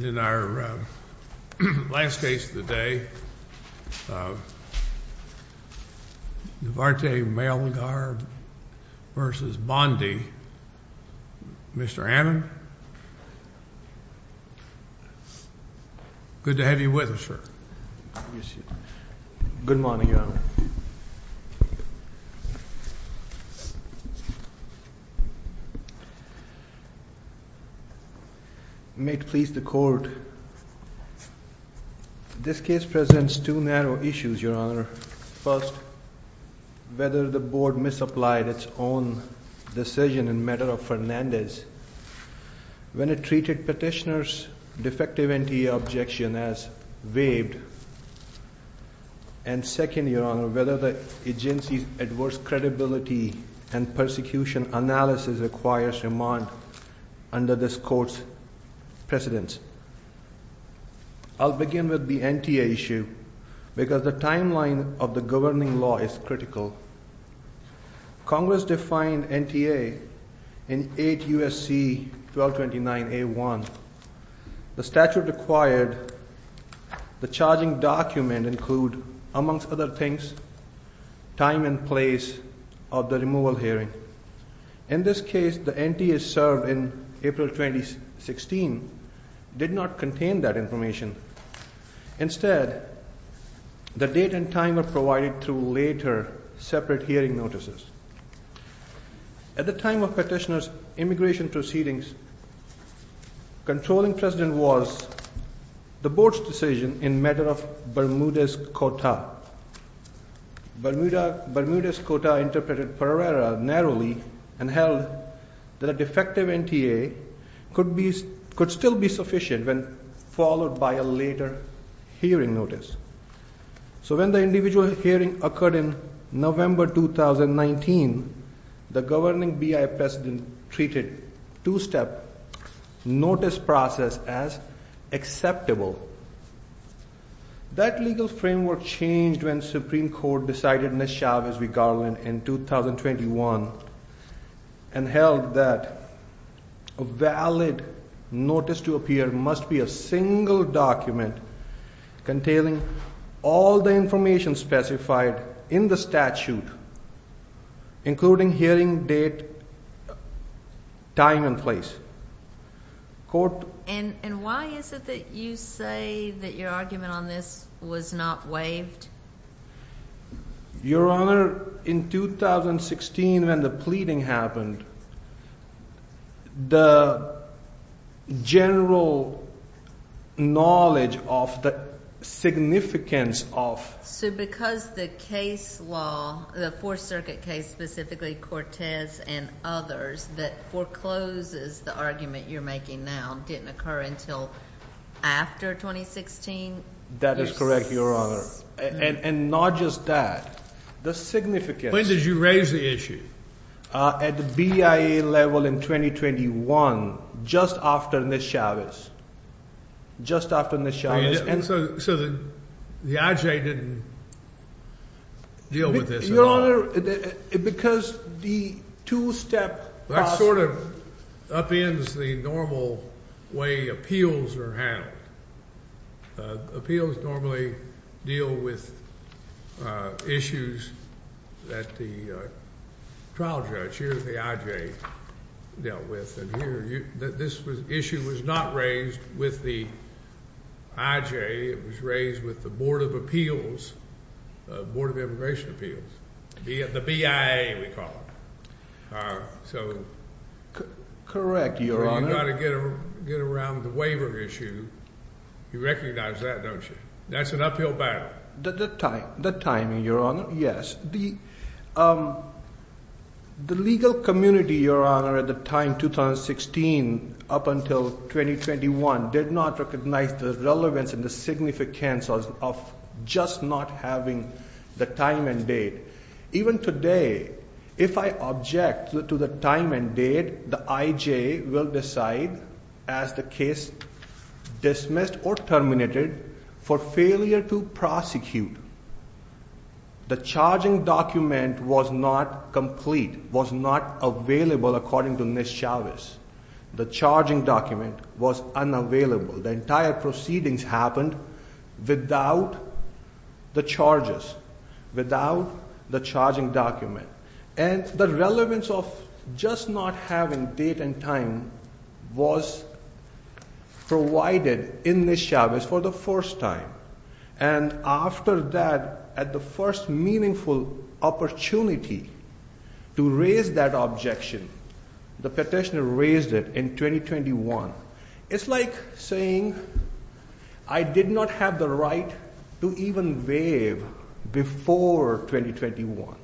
In our last case of the day, Navarrete-Melgar v. Bondi. Mr. Hammond, good to have you with us, sir. Good morning, Your Honor. May it please the Court, this case presents two narrow issues, Your Honor. First, whether the Board misapplied its own decision in matter of Fernandez when it treated petitioner's defective NTA objection as waived. And second, Your Honor, whether the agency's adverse credibility and persecution analysis requires remand under this Court's precedence. I'll begin with the NTA issue because the timeline of the governing law is critical. Congress defined NTA in 8 U.S.C. 1229 A.1. The statute required the charging document include, amongst other things, time and place of the removal hearing. In this case, the NTA served in April 2016 did not contain that information. Instead, the date and time are provided through later separate hearing notices. At the time of petitioner's immigration proceedings, controlling precedent was the Board's decision in matter of Bermudez-Cota. Bermudez-Cota interpreted Pereira narrowly and held that a defective NTA could still be sufficient when followed by a later hearing notice. So when the individual hearing occurred in November 2019, the governing BIA precedent treated two-step notice process as acceptable. That legal framework changed when Supreme Court decided Ms. Chavez-Garland in 2021 and held that a valid notice to appear must be a single document containing all the information specified in the statute, including hearing date, time and place. And why is it that you say that your argument on this was not waived? Your Honor, in 2016 when the pleading happened, the general knowledge of the significance of... So because the case law, the Fourth Circuit case, specifically Cortez and others, that forecloses the argument you're making now didn't occur until after 2016? That is correct, Your Honor. And not just that. The significance... When did you raise the issue? At the BIA level in 2021, just after Ms. Chavez. Just after Ms. Chavez. So the IJ didn't deal with this at all? Your Honor, because the two-step process... That sort of upends the normal way appeals are handled. Appeals normally deal with issues that the trial judge, here at the IJ, dealt with. And here, this issue was not raised with the IJ. It was raised with the Board of Appeals, the Board of Immigration Appeals. The BIA, we call it. Correct, Your Honor. You've got to get around the waiver issue. You recognize that, don't you? That's an uphill battle. The timing, Your Honor, yes. The legal community, Your Honor, at the time, 2016 up until 2021, did not recognize the relevance and the significance of just not having the time and date. Even today, if I object to the time and date, the IJ will decide, as the case dismissed or terminated, for failure to prosecute. The charging document was not complete, was not available, according to Ms. Chavez. The charging document was unavailable. The entire proceedings happened without the charges, without the charging document. And the relevance of just not having date and time was provided in Ms. Chavez for the first time. And after that, at the first meaningful opportunity to raise that objection, the petitioner raised it in 2021. It's like saying I did not have the right to even waive before 2021.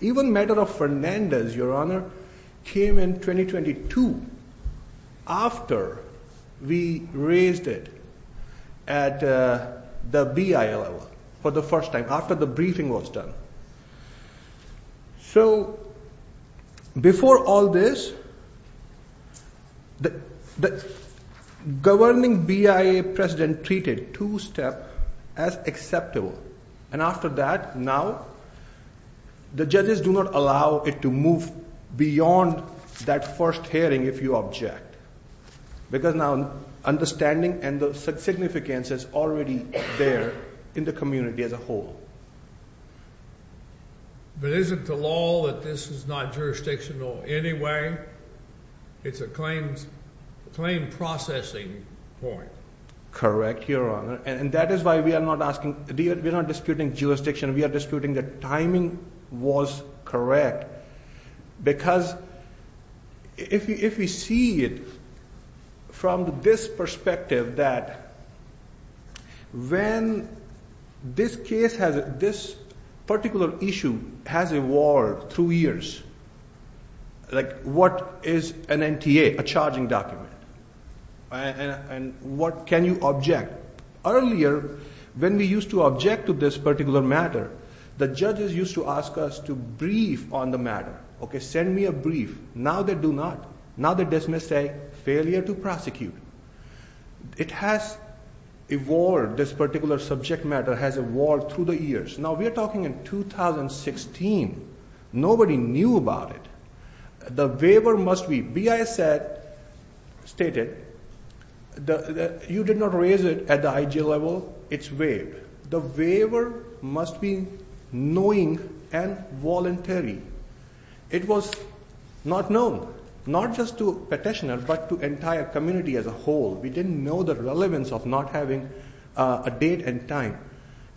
Even matter of Fernandez, Your Honor, came in 2022, after we raised it at the BIA level for the first time, after the briefing was done. So, before all this, the governing BIA president treated two-step as acceptable. And after that, now, the judges do not allow it to move beyond that first hearing if you object. Because now, understanding and the significance is already there in the community as a whole. But isn't the law that this is not jurisdictional anyway? It's a claim processing point. Correct, Your Honor. And that is why we are not disputing jurisdiction. We are disputing that timing was correct. Because if we see it from this perspective that when this case has, this particular issue has evolved through years, like what is an NTA, a charging document? And what can you object? Earlier, when we used to object to this particular matter, the judges used to ask us to brief on the matter. Okay, send me a brief. Now, they do not. Now, they dismiss a failure to prosecute. It has evolved, this particular subject matter has evolved through the years. Now, we are talking in 2016. Nobody knew about it. The waiver must be BIA said, stated, you did not raise it at the IG level, it's waived. The waiver must be knowing and voluntary. It was not known, not just to petitioner, but to entire community as a whole. We didn't know the relevance of not having a date and time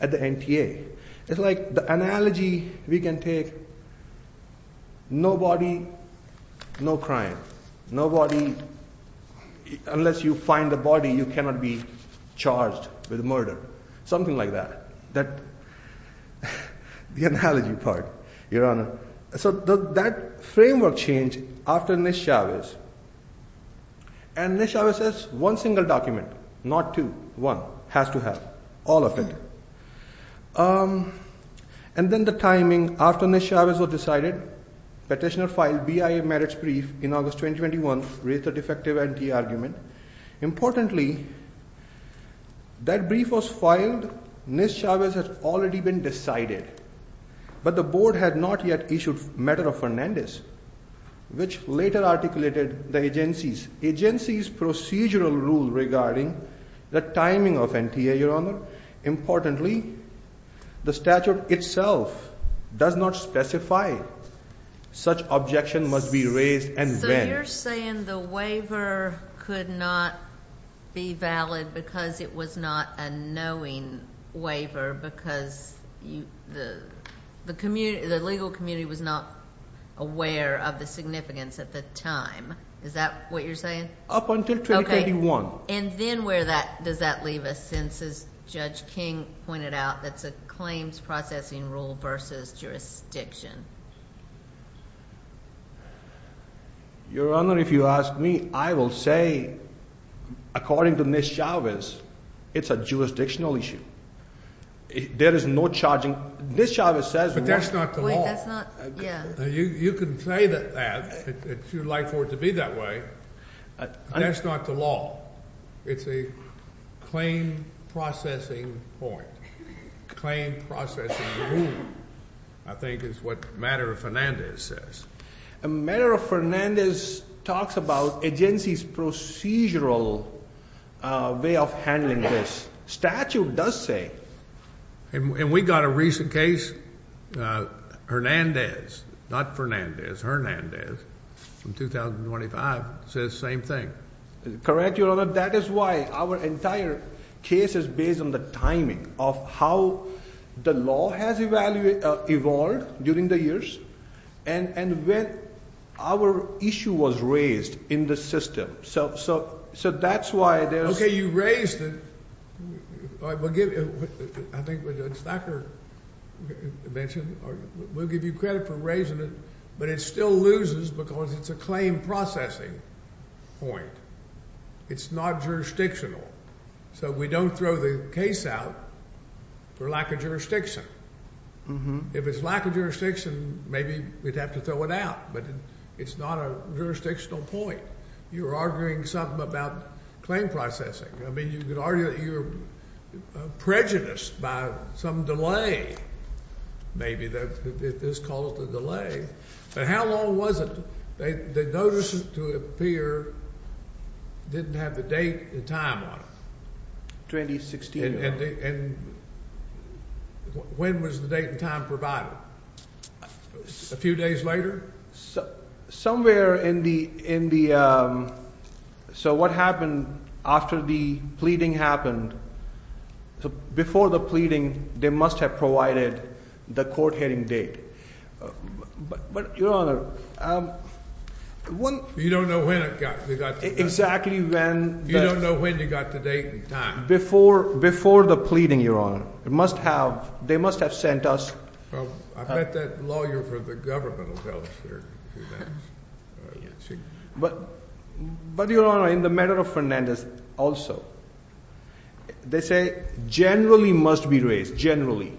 at the NTA. It's like the analogy we can take, no body, no crime. No body, unless you find the body, you cannot be charged with murder. Something like that. That, the analogy part, Your Honor. So that framework changed after Nish Chavez. And Nish Chavez says, one single document, not two, one, has to have all of it. And then the timing after Nish Chavez was decided, petitioner filed BIA merits brief in August 2021, raised a defective NTA argument. Importantly, that brief was filed, Nish Chavez has already been decided. But the board had not yet issued matter of Fernandez, which later articulated the agency's procedural rule regarding the timing of NTA, Your Honor. Importantly, the statute itself does not specify such objection must be raised and when. You're saying the waiver could not be valid because it was not a knowing waiver because the legal community was not aware of the significance at the time. Is that what you're saying? Up until 2021. And then where does that leave us since, as Judge King pointed out, that's a claims processing rule versus jurisdiction. Your Honor, if you ask me, I will say, according to Nish Chavez, it's a jurisdictional issue. There is no charging. Nish Chavez says. But that's not the law. You can say that you'd like for it to be that way. That's not the law. It's a claim processing point. Claim processing rule, I think, is what matter of Fernandez says. A matter of Fernandez talks about agency's procedural way of handling this. Statute does say. And we got a recent case, Fernandez, not Fernandez, Fernandez from 2025 says same thing. Correct, Your Honor. That is why our entire case is based on the timing of how the law has evolved during the years and when our issue was raised in the system. So that's why it is. OK, you raised it. I think Dr. Stacker mentioned, we'll give you credit for raising it. But it still loses because it's a claim processing point. It's not jurisdictional. So we don't throw the case out for lack of jurisdiction. If it's lack of jurisdiction, maybe we'd have to throw it out. But it's not a jurisdictional point. You're arguing something about claim processing. I mean, you could argue that you're prejudiced by some delay. Maybe this calls the delay. But how long was it? They notice it to appear didn't have the date and time on it. 2016. And when was the date and time provided? A few days later? Somewhere in the, so what happened after the pleading happened? Before the pleading, they must have provided the court hearing date. But, Your Honor, You don't know when it got to date. Exactly when. You don't know when you got the date and time. Before the pleading, Your Honor, they must have sent us I bet that lawyer for the government will tell us. But, Your Honor, in the matter of Fernandez also, they say generally must be raised, generally.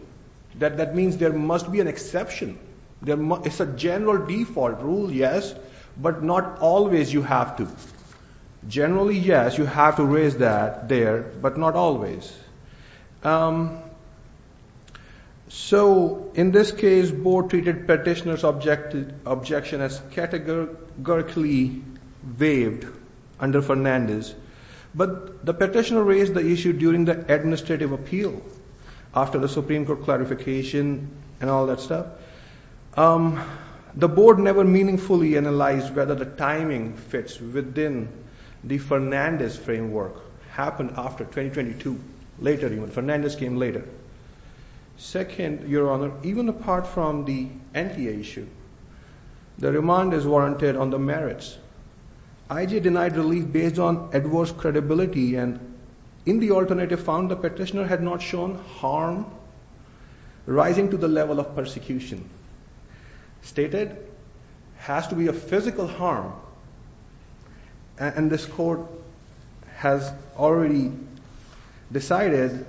That means there must be an exception. It's a general default rule, yes, but not always you have to. Generally, yes, you have to raise that there, but not always. So, in this case, board treated petitioner's objection as categorically waived under Fernandez. But the petitioner raised the issue during the administrative appeal, after the Supreme Court clarification and all that stuff. The board never meaningfully analyzed whether the timing fits within the Fernandez framework. Happened after 2022, later even. Fernandez came later. Second, Your Honor, even apart from the NTA issue, the remand is warranted on the merits. IJ denied relief based on adverse credibility and in the alternative found the petitioner had not shown harm, rising to the level of persecution. Stated, has to be a physical harm. And this court has already decided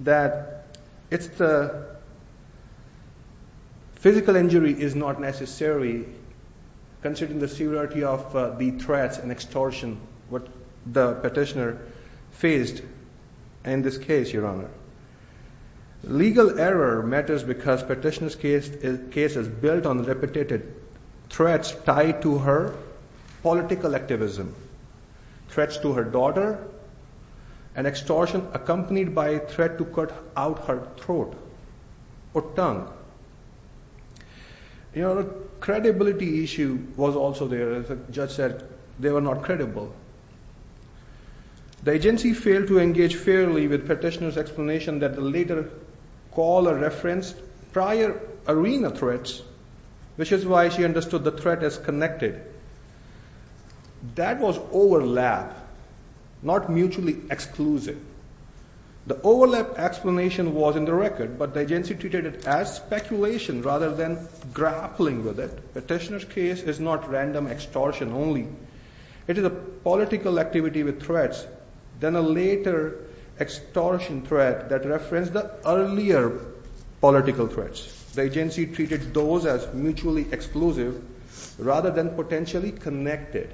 that it's the physical injury is not necessary, considering the severity of the threats and extortion, what the petitioner faced in this case, Your Honor. Legal error matters because petitioner's case is built on repetitive threats tied to her political activism. Threats to her daughter and extortion accompanied by threat to cut out her throat or tongue. Your Honor, credibility issue was also there. As the judge said, they were not credible. The agency failed to engage fairly with petitioner's explanation that the later caller referenced prior arena threats, which is why she understood the threat as connected. That was overlap, not mutually exclusive. The overlap explanation was in the record, but the agency treated it as speculation rather than grappling with it. Petitioner's case is not random extortion only. It is a political activity with threats. Then a later extortion threat that referenced the earlier political threats. The agency treated those as mutually exclusive rather than potentially connected.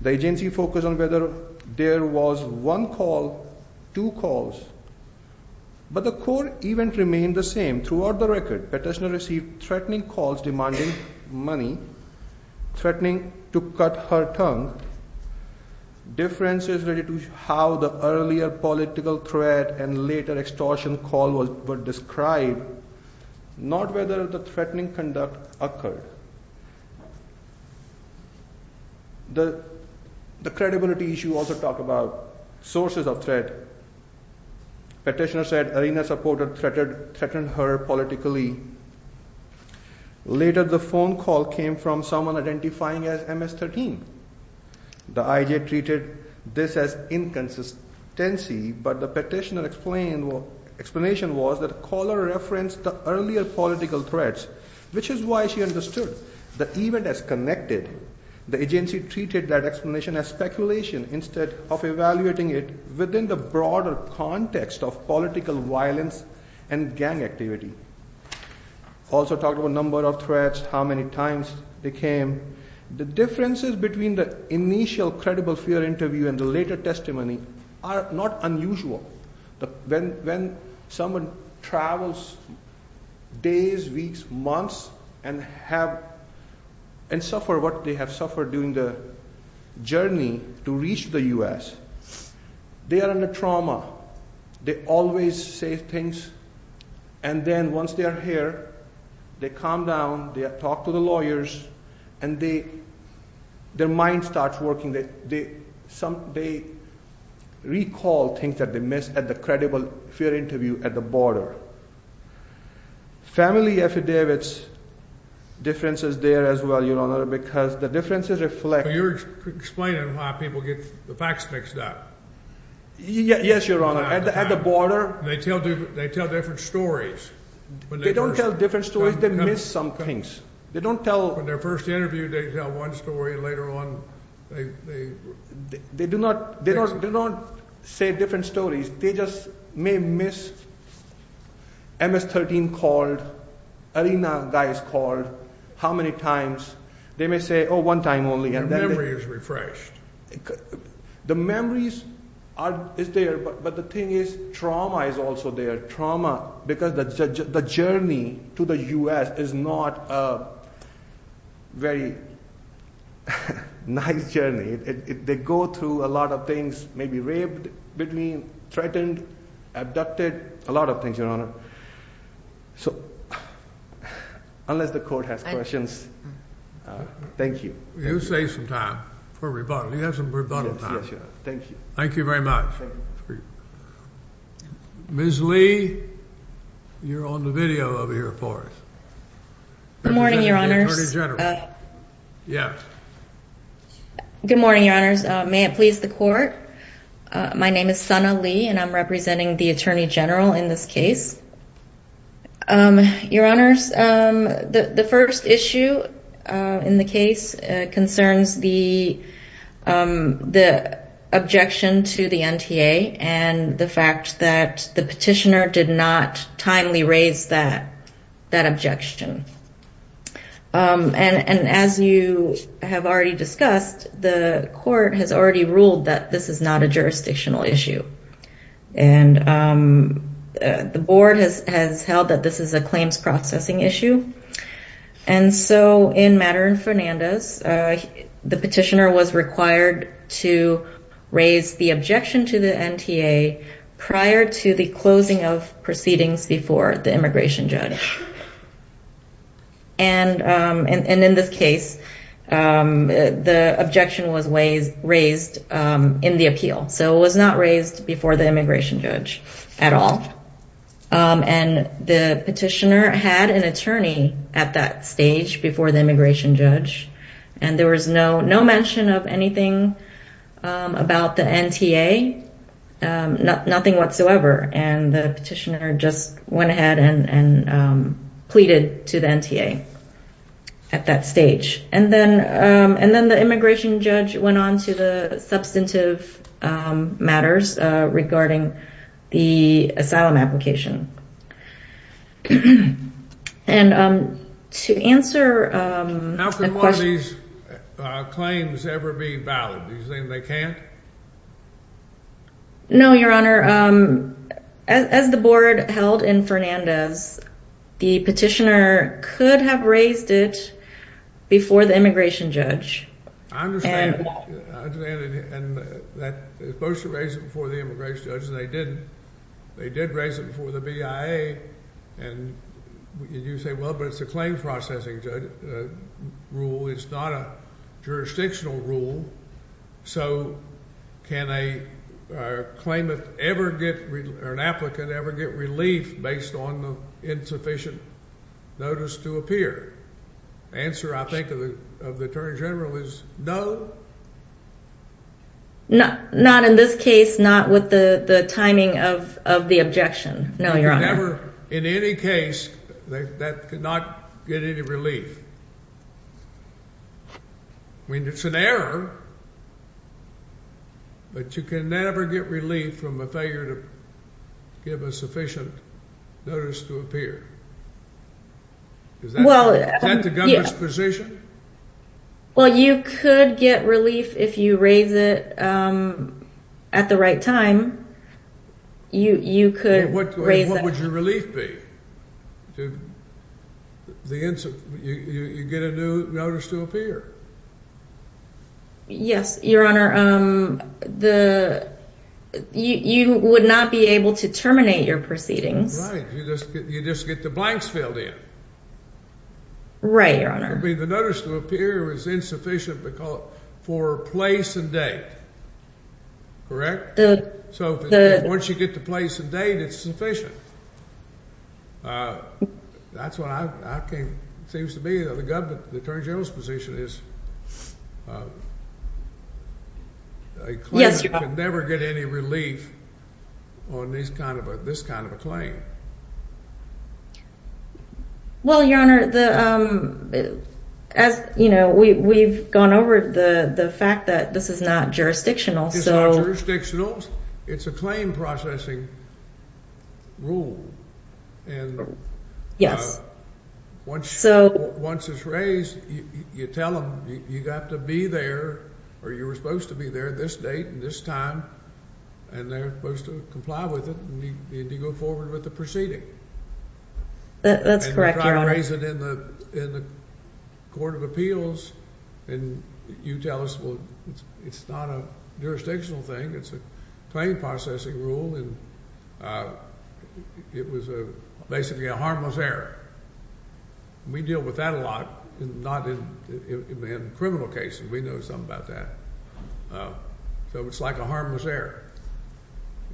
The agency focused on whether there was one call, two calls. But the court event remained the same throughout the record. Petitioner received threatening calls demanding money, threatening to cut her tongue, differences related to how the earlier political threat and later extortion call were described, not whether the threatening conduct occurred. The credibility issue also talked about sources of threat. Petitioner said arena supporter threatened her politically. Later the phone call came from someone identifying as MS-13. The IJ treated this as inconsistency, but the petitioner's explanation was that the caller referenced the earlier political threats, which is why she understood the event as connected. The agency treated that explanation as speculation instead of evaluating it within the broader context of political violence and gang activity. Also talked about number of threats, how many times they came. The differences between the initial credible fear interview and the later testimony are not unusual. When someone travels days, weeks, months, and suffer what they have suffered during the journey to reach the U.S., they are in a trauma. They always say things, and then once they are here, they calm down, they talk to the lawyers, and their mind starts working. They recall things that they missed at the credible fear interview at the border. Family affidavits, differences there as well, Your Honor, because the differences reflect... So you're explaining how people get the facts mixed up? Yes, Your Honor. At the border... They tell different stories. They don't tell different stories. They miss some things. In their first interview, they tell one story. Later on, they... They do not say different stories. They just may miss MS-13 called, arena guys called, how many times. They may say, oh, one time only. Their memory is refreshed. The memories is there, but the thing is trauma is also there. Trauma, because the journey to the U.S. is not a very nice journey. They go through a lot of things, maybe raped, threatened, abducted, a lot of things, Your Honor. So, unless the court has questions, thank you. You saved some time for rebuttal. He has some rebuttal time. Thank you. Thank you very much. Ms. Lee, you're on the video over here for us. Good morning, Your Honors. Attorney General. Yeah. Good morning, Your Honors. May it please the court. My name is Sana Lee, and I'm representing the Attorney General in this case. Your Honors, the first issue in the case concerns the objection to the NTA and the fact that the petitioner did not timely raise that objection. And as you have already discussed, the court has already ruled that this is not a jurisdictional issue. And the board has held that this is a claims processing issue. And so, in Matter and Fernandez, the petitioner was required to raise the objection to the NTA prior to the closing of proceedings before the immigration judge. And in this case, the objection was raised in the appeal. So it was not raised before the immigration judge at all. And the petitioner had an attorney at that stage before the immigration judge. And there was no mention of anything about the NTA, nothing whatsoever. And the petitioner just went ahead and pleaded to the NTA at that stage. And then the immigration judge went on to the substantive matters regarding the asylum application. And to answer a question... How can one of these claims ever be valid? Do you think they can't? No, Your Honor. As the board held in Fernandez, the petitioner could have raised it before the immigration judge. I understand. And they're supposed to raise it before the immigration judge, and they didn't. They did raise it before the BIA. And you say, well, but it's a claims processing rule. It's not a jurisdictional rule. So can a claimant ever get, or an applicant ever get relief based on the insufficient notice to appear? The answer, I think, of the attorney general is no. Not in this case, not with the timing of the objection. No, Your Honor. Never in any case that could not get any relief. I mean, it's an error. But you can never get relief from a failure to give a sufficient notice to appear. Is that the government's position? Well, you could get relief if you raise it at the right time. You could raise that. And what would your relief be? You get a new notice to appear. Yes, Your Honor. You would not be able to terminate your proceedings. Right. You just get the blanks filled in. Right, Your Honor. I mean, the notice to appear is insufficient for place and date. Correct? So once you get the place and date, it's sufficient. That's what I think it seems to be. The attorney general's position is a claimant could never get any relief on this kind of a claim. Well, Your Honor, we've gone over the fact that this is not jurisdictional. It's not jurisdictional. It's a claim processing rule. Once it's raised, you tell them you have to be there, or you were supposed to be there at this date and this time, and they're supposed to comply with it, and you go forward with the proceeding. That's correct, Your Honor. You try to raise it in the court of appeals, and you tell us, well, it's not a jurisdictional thing. It's a claim processing rule, and it was basically a harmless error. We deal with that a lot, not in criminal cases. We know something about that. So it's like a harmless error.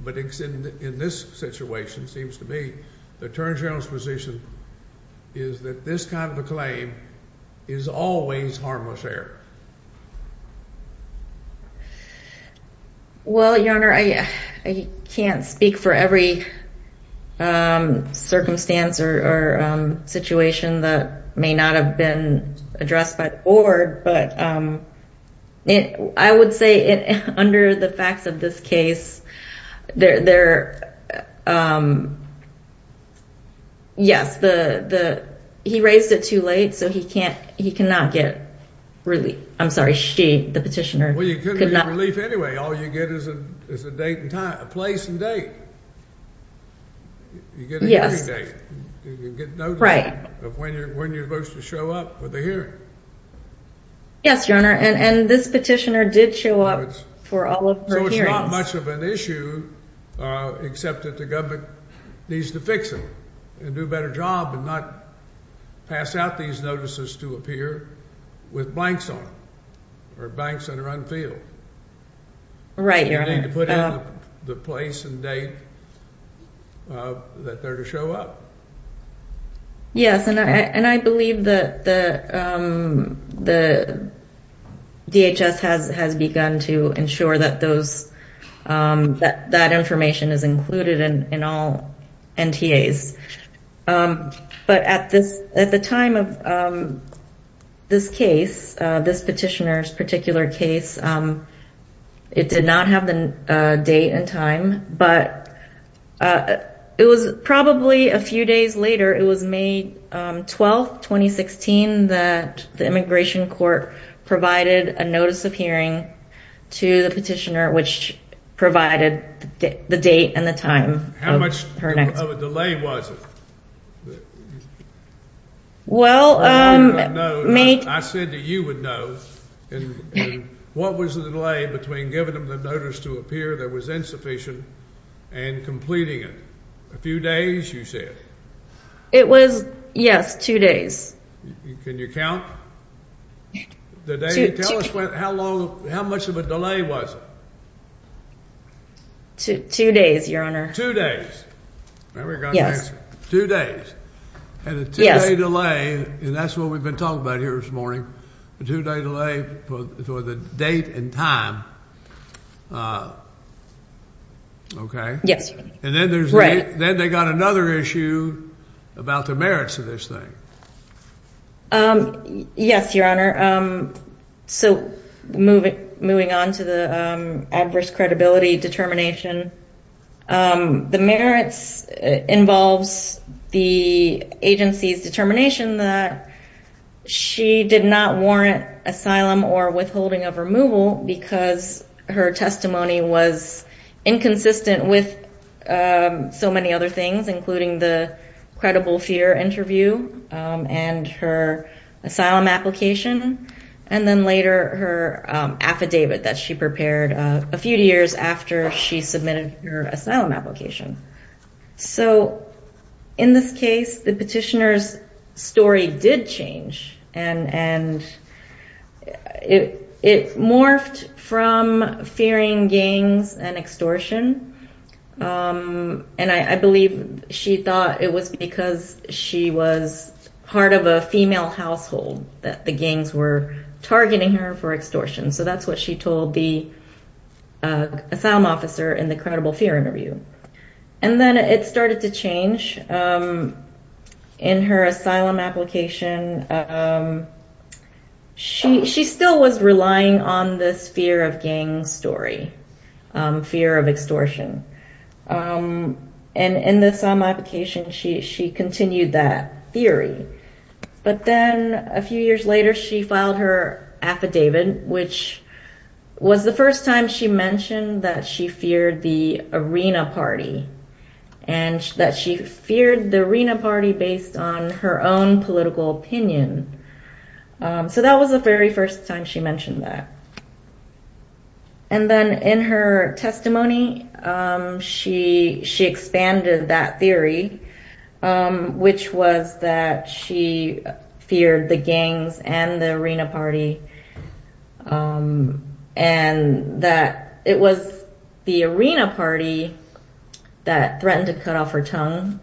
But in this situation, it seems to be the attorney general's position is that this kind of a claim is always harmless error. Well, Your Honor, I can't speak for every circumstance or situation that may not have been addressed by the board, but I would say under the facts of this case, yes, he raised it too late, so he cannot get relief. I'm sorry, she, the petitioner, could not. Well, you couldn't get relief anyway. All you get is a place and date. You get a hearing date. You get notice of when you're supposed to show up for the hearing. Yes, Your Honor, and this petitioner did show up for all of her hearings. So it's not much of an issue, except that the government needs to fix it and do a better job and not pass out these notices to appear with blanks on or banks that are unfilled. Right, Your Honor. They need to put in the place and date that they're to show up. Yes, and I believe that the DHS has begun to ensure that that information is included in all NTAs. But at the time of this case, this petitioner's particular case, it did not have the date and time, but it was probably a few days later, it was May 12th, 2016, that the immigration court provided a notice of hearing to the petitioner, which provided the date and the time of her next hearing. How much of a delay was it? I said that you would know. What was the delay between giving them the notice to appear that was insufficient and completing it? A few days, you said? It was, yes, two days. Can you count? Tell us how much of a delay was it? Two days, Your Honor. Two days. Yes. Two days. Yes. And a two-day delay, and that's what we've been talking about here this morning, a two-day delay for the date and time. Okay. Yes. And then they got another issue about the merits of this thing. Yes, Your Honor. So moving on to the adverse credibility determination, the merits involves the agency's determination that she did not warrant asylum or withholding of removal because her testimony was inconsistent with so many other things, including the credible fear interview and her asylum application, and then later her affidavit that she prepared a few years after she submitted her asylum application. So in this case, the petitioner's story did change, and it morphed from fearing gangs and extortion, and I believe she thought it was because she was part of a female household that the gangs were targeting her for extortion. So that's what she told the asylum officer in the credible fear interview. And then it started to change. In her asylum application, she still was relying on this fear of gangs story, fear of extortion. And in the asylum application, she continued that theory. But then a few years later, she filed her affidavit, which was the first time she mentioned that she feared the arena party and that she feared the arena party based on her own political opinion. So that was the very first time she mentioned that. And then in her testimony, she expanded that theory, which was that she feared the gangs and the arena party, and that it was the arena party that threatened to cut off her tongue.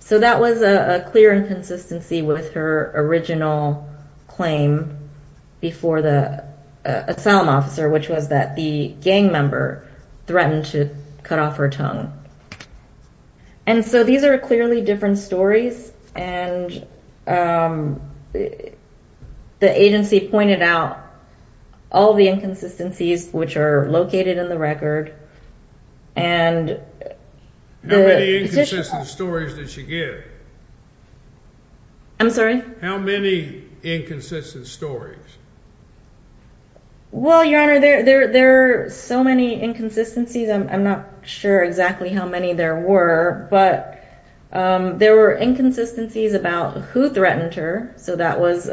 So that was a clear inconsistency with her original claim before the asylum officer, which was that the gang member threatened to cut off her tongue. And so these are clearly different stories, and the agency pointed out all the inconsistencies, which are located in the record, and... How many inconsistent stories did she give? I'm sorry? How many inconsistent stories? Well, Your Honor, there are so many inconsistencies. I'm not sure exactly how many there were, but there were inconsistencies about who threatened her. So that was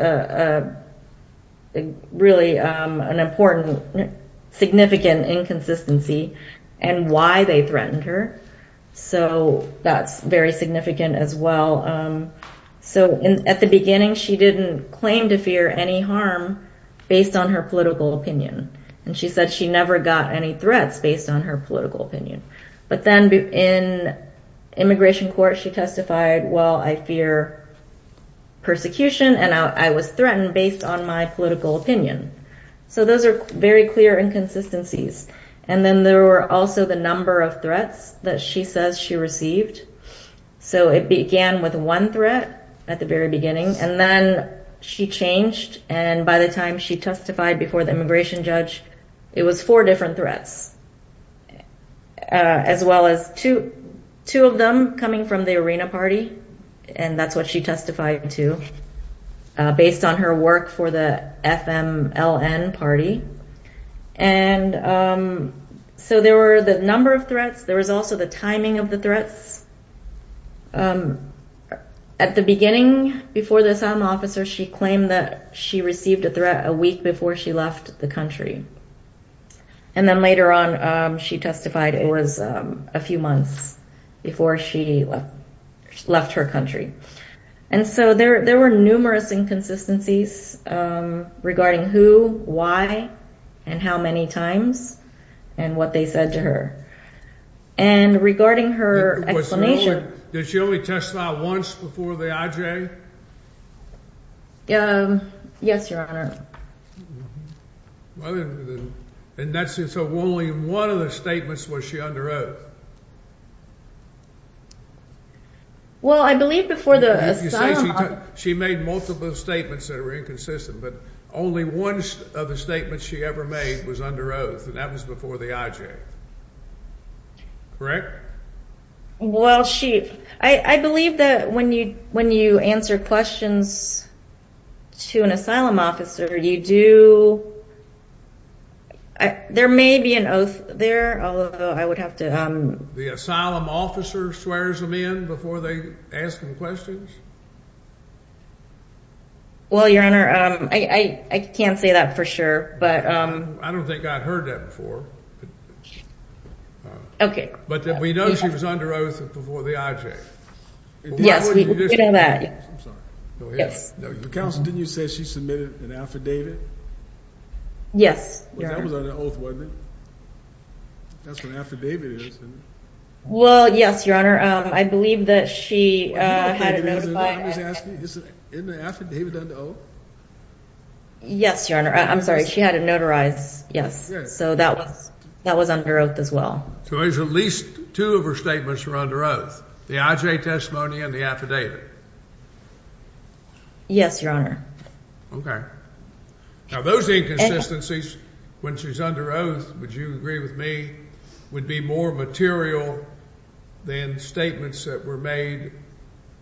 really an important, significant inconsistency, and why they threatened her. So that's very significant as well. So at the beginning, she didn't claim to fear any harm based on her political opinion. And she said she never got any threats based on her political opinion. But then in immigration court, she testified, well, I fear persecution, and I was threatened based on my political opinion. So those are very clear inconsistencies. And then there were also the number of threats that she says she received. So it began with one threat at the very beginning, and then she changed, and by the time she testified before the immigration judge, it was four different threats, as well as two of them coming from the ARENA party, and that's what she testified to based on her work for the FMLN party. And so there were the number of threats. There was also the timing of the threats. At the beginning, before the asylum officer, she claimed that she received a threat a week before she left the country. And then later on, she testified it was a few months before she left her country. And so there were numerous inconsistencies regarding who, why, and how many times, and what they said to her. And regarding her explanation. Did she only testify once before the IJ? Yes, Your Honor. So only in one of the statements was she under oath? Well, I believe before the asylum officer. She made multiple statements that were inconsistent, but only one of the statements she ever made was under oath, and that was before the IJ. Correct? Well, I believe that when you answer questions to an asylum officer, you do – there may be an oath there, although I would have to – The asylum officer swears them in before they ask them questions? Well, Your Honor, I can't say that for sure, but – I don't think I've heard that before. But we know she was under oath before the IJ. Yes, we know that. Counsel, didn't you say she submitted an affidavit? Yes, Your Honor. That was under oath, wasn't it? That's what an affidavit is, isn't it? Well, yes, Your Honor. I believe that she had it notified. I was asking, isn't an affidavit under oath? Yes, Your Honor. I'm sorry, she had it notarized, yes. So that was under oath as well. So at least two of her statements were under oath, the IJ testimony and the affidavit? Yes, Your Honor. Okay. Now, those inconsistencies, when she's under oath, would you agree with me, would be more material than statements that were made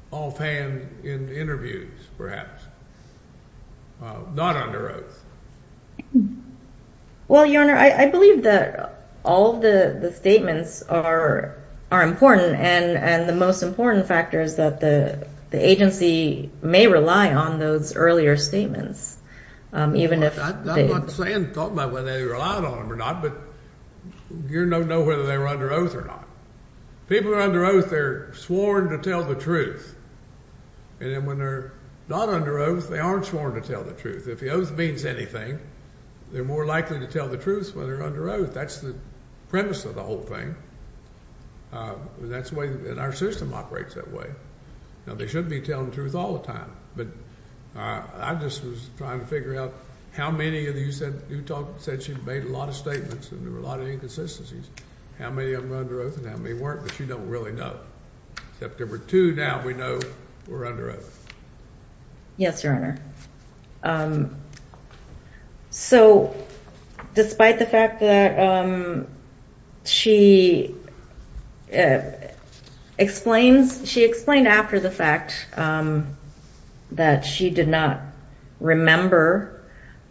offhand in interviews, perhaps? Not under oath. Well, Your Honor, I believe that all of the statements are important, and the most important factor is that the agency may rely on those earlier statements. I'm not saying, talking about whether they relied on them or not, but you don't know whether they were under oath or not. People who are under oath, they're sworn to tell the truth. And then when they're not under oath, they aren't sworn to tell the truth. If the oath means anything, they're more likely to tell the truth when they're under oath. That's the premise of the whole thing. That's the way that our system operates that way. Now, they should be telling the truth all the time, but I just was trying to figure out how many of you said she made a lot of statements and there were a lot of inconsistencies, how many of them were under oath and how many weren't, but you don't really know, except there were two now we know were under oath. Yes, Your Honor. So despite the fact that she explains, she explained after the fact that she did not remember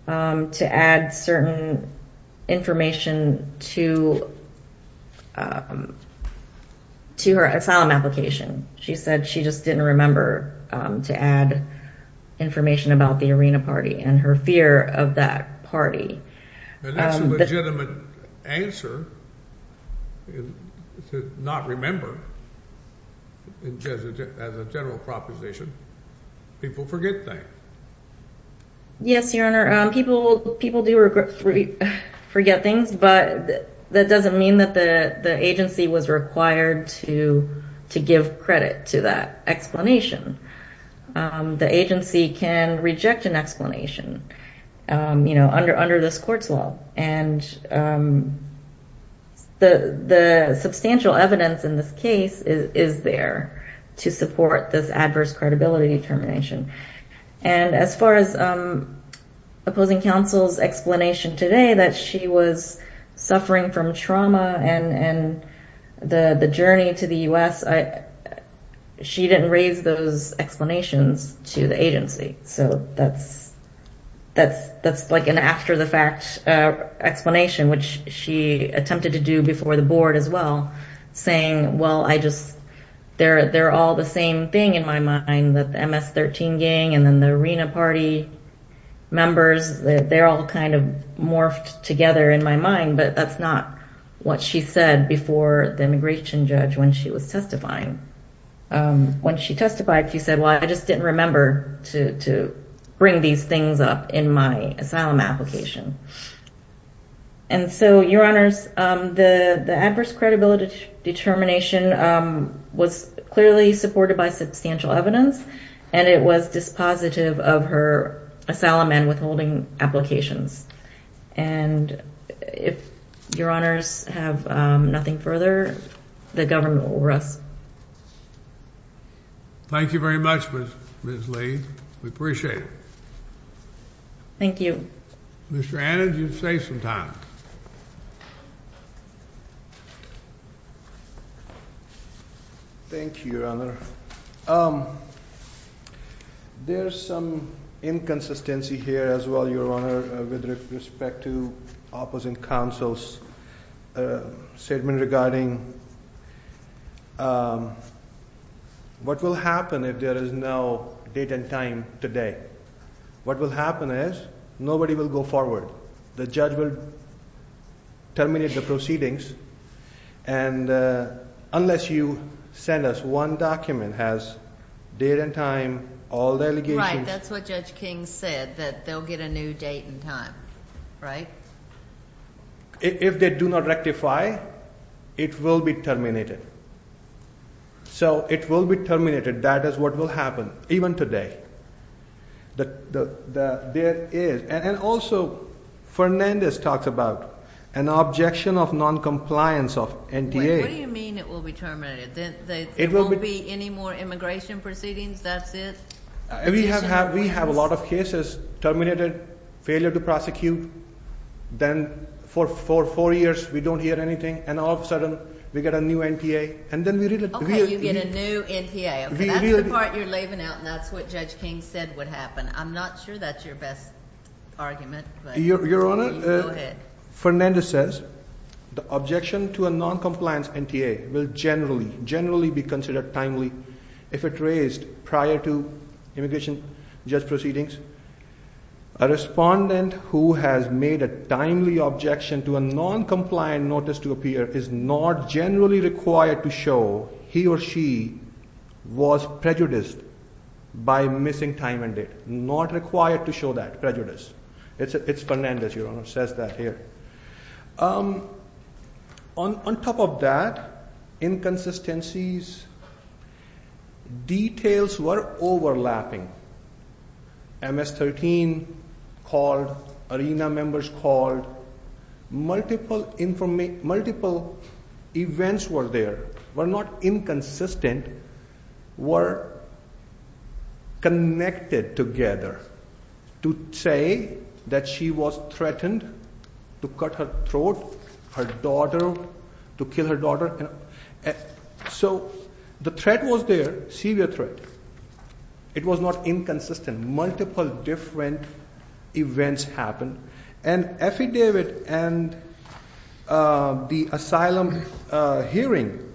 to add certain information to her asylum application. She said she just didn't remember to add information about the Arena Party and her fear of that party. That's a legitimate answer to not remember as a general proposition. People forget things. Yes, Your Honor. People do forget things, but that doesn't mean that the agency was required to give credit to that explanation. The agency can reject an explanation under this court's law, and the substantial evidence in this case is there to support this adverse credibility determination. And as far as opposing counsel's explanation today that she was suffering from trauma and the journey to the U.S., she didn't raise those explanations to the agency. So that's like an after-the-fact explanation, which she attempted to do before the board as well, saying, well, they're all the same thing in my mind, that the MS-13 gang and then the Arena Party members, they're all kind of morphed together in my mind. But that's not what she said before the immigration judge when she was testifying. When she testified, she said, well, I just didn't remember to bring these things up in my asylum application. And so, Your Honors, the adverse credibility determination was clearly supported by substantial evidence, and it was dispositive of her asylum and withholding applications. And if Your Honors have nothing further, the government will rest. Thank you very much, Ms. Lee. We appreciate it. Thank you. Mr. Adams, you have some time. Thank you, Your Honor. There's some inconsistency here as well, Your Honor, with respect to opposing counsel's statement regarding what will happen if there is no date and time today. What will happen is nobody will go forward. The judge will terminate the proceedings, and unless you send us one document that has date and time, all the allegations... Right. That's what Judge King said, that they'll get a new date and time, right? If they do not rectify, it will be terminated. So it will be terminated. That is what will happen, even today. And also, Fernandez talks about an objection of noncompliance of NTA. What do you mean it will be terminated? There won't be any more immigration proceedings? That's it? We have a lot of cases terminated, failure to prosecute. Then for four years, we don't hear anything. And all of a sudden, we get a new NTA. Okay, you get a new NTA. That's the part you're leaving out, and that's what Judge King said would happen. I'm not sure that's your best argument. Your Honor, Fernandez says the objection to a noncompliance NTA will generally be considered timely if it raised prior to immigration judge proceedings. A respondent who has made a timely objection to a noncompliant notice to appear is not generally required to show he or she was prejudiced by missing time and date. Not required to show that prejudice. It's Fernandez, Your Honor, who says that here. On top of that, inconsistencies, details were overlapping. MS-13 called. ARENA members called. Multiple events were there. Were not inconsistent. Were connected together to say that she was threatened to cut her throat, her daughter, to kill her daughter. So the threat was there, severe threat. It was not inconsistent. Multiple different events happened. And affidavit and the asylum hearing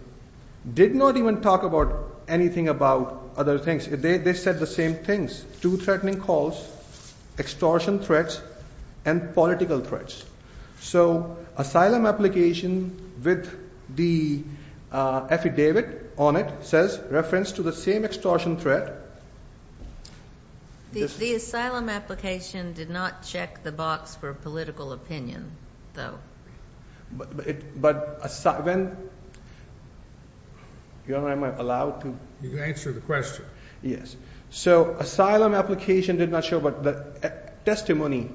did not even talk about anything about other things. They said the same things. Two threatening calls, extortion threats, and political threats. So asylum application with the affidavit on it says reference to the same extortion threat. The asylum application did not check the box for political opinion, though. But, Your Honor, am I allowed to? You can answer the question. Yes. So asylum application did not show, but the testimony,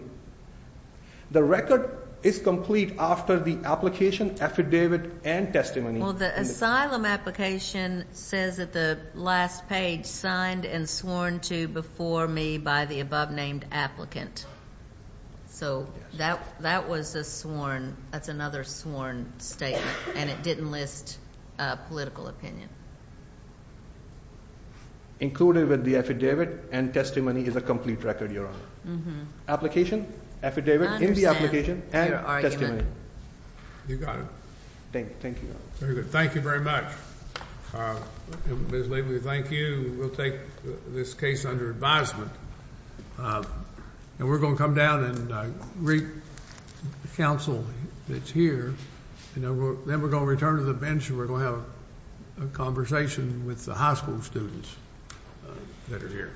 the record is complete after the application, affidavit, and testimony. Well, the asylum application says at the last page, signed and sworn to before me by the above-named applicant. So that was a sworn, that's another sworn statement. And it didn't list political opinion. Included with the affidavit and testimony is a complete record, Your Honor. Application, affidavit, in the application, and testimony. You got it. Thank you, Your Honor. Very good. Thank you very much. Ms. Laveley, thank you. We'll take this case under advisement. And we're going to come down and greet the counsel that's here. And then we're going to return to the bench and we're going to have a conversation with the high school students that are here.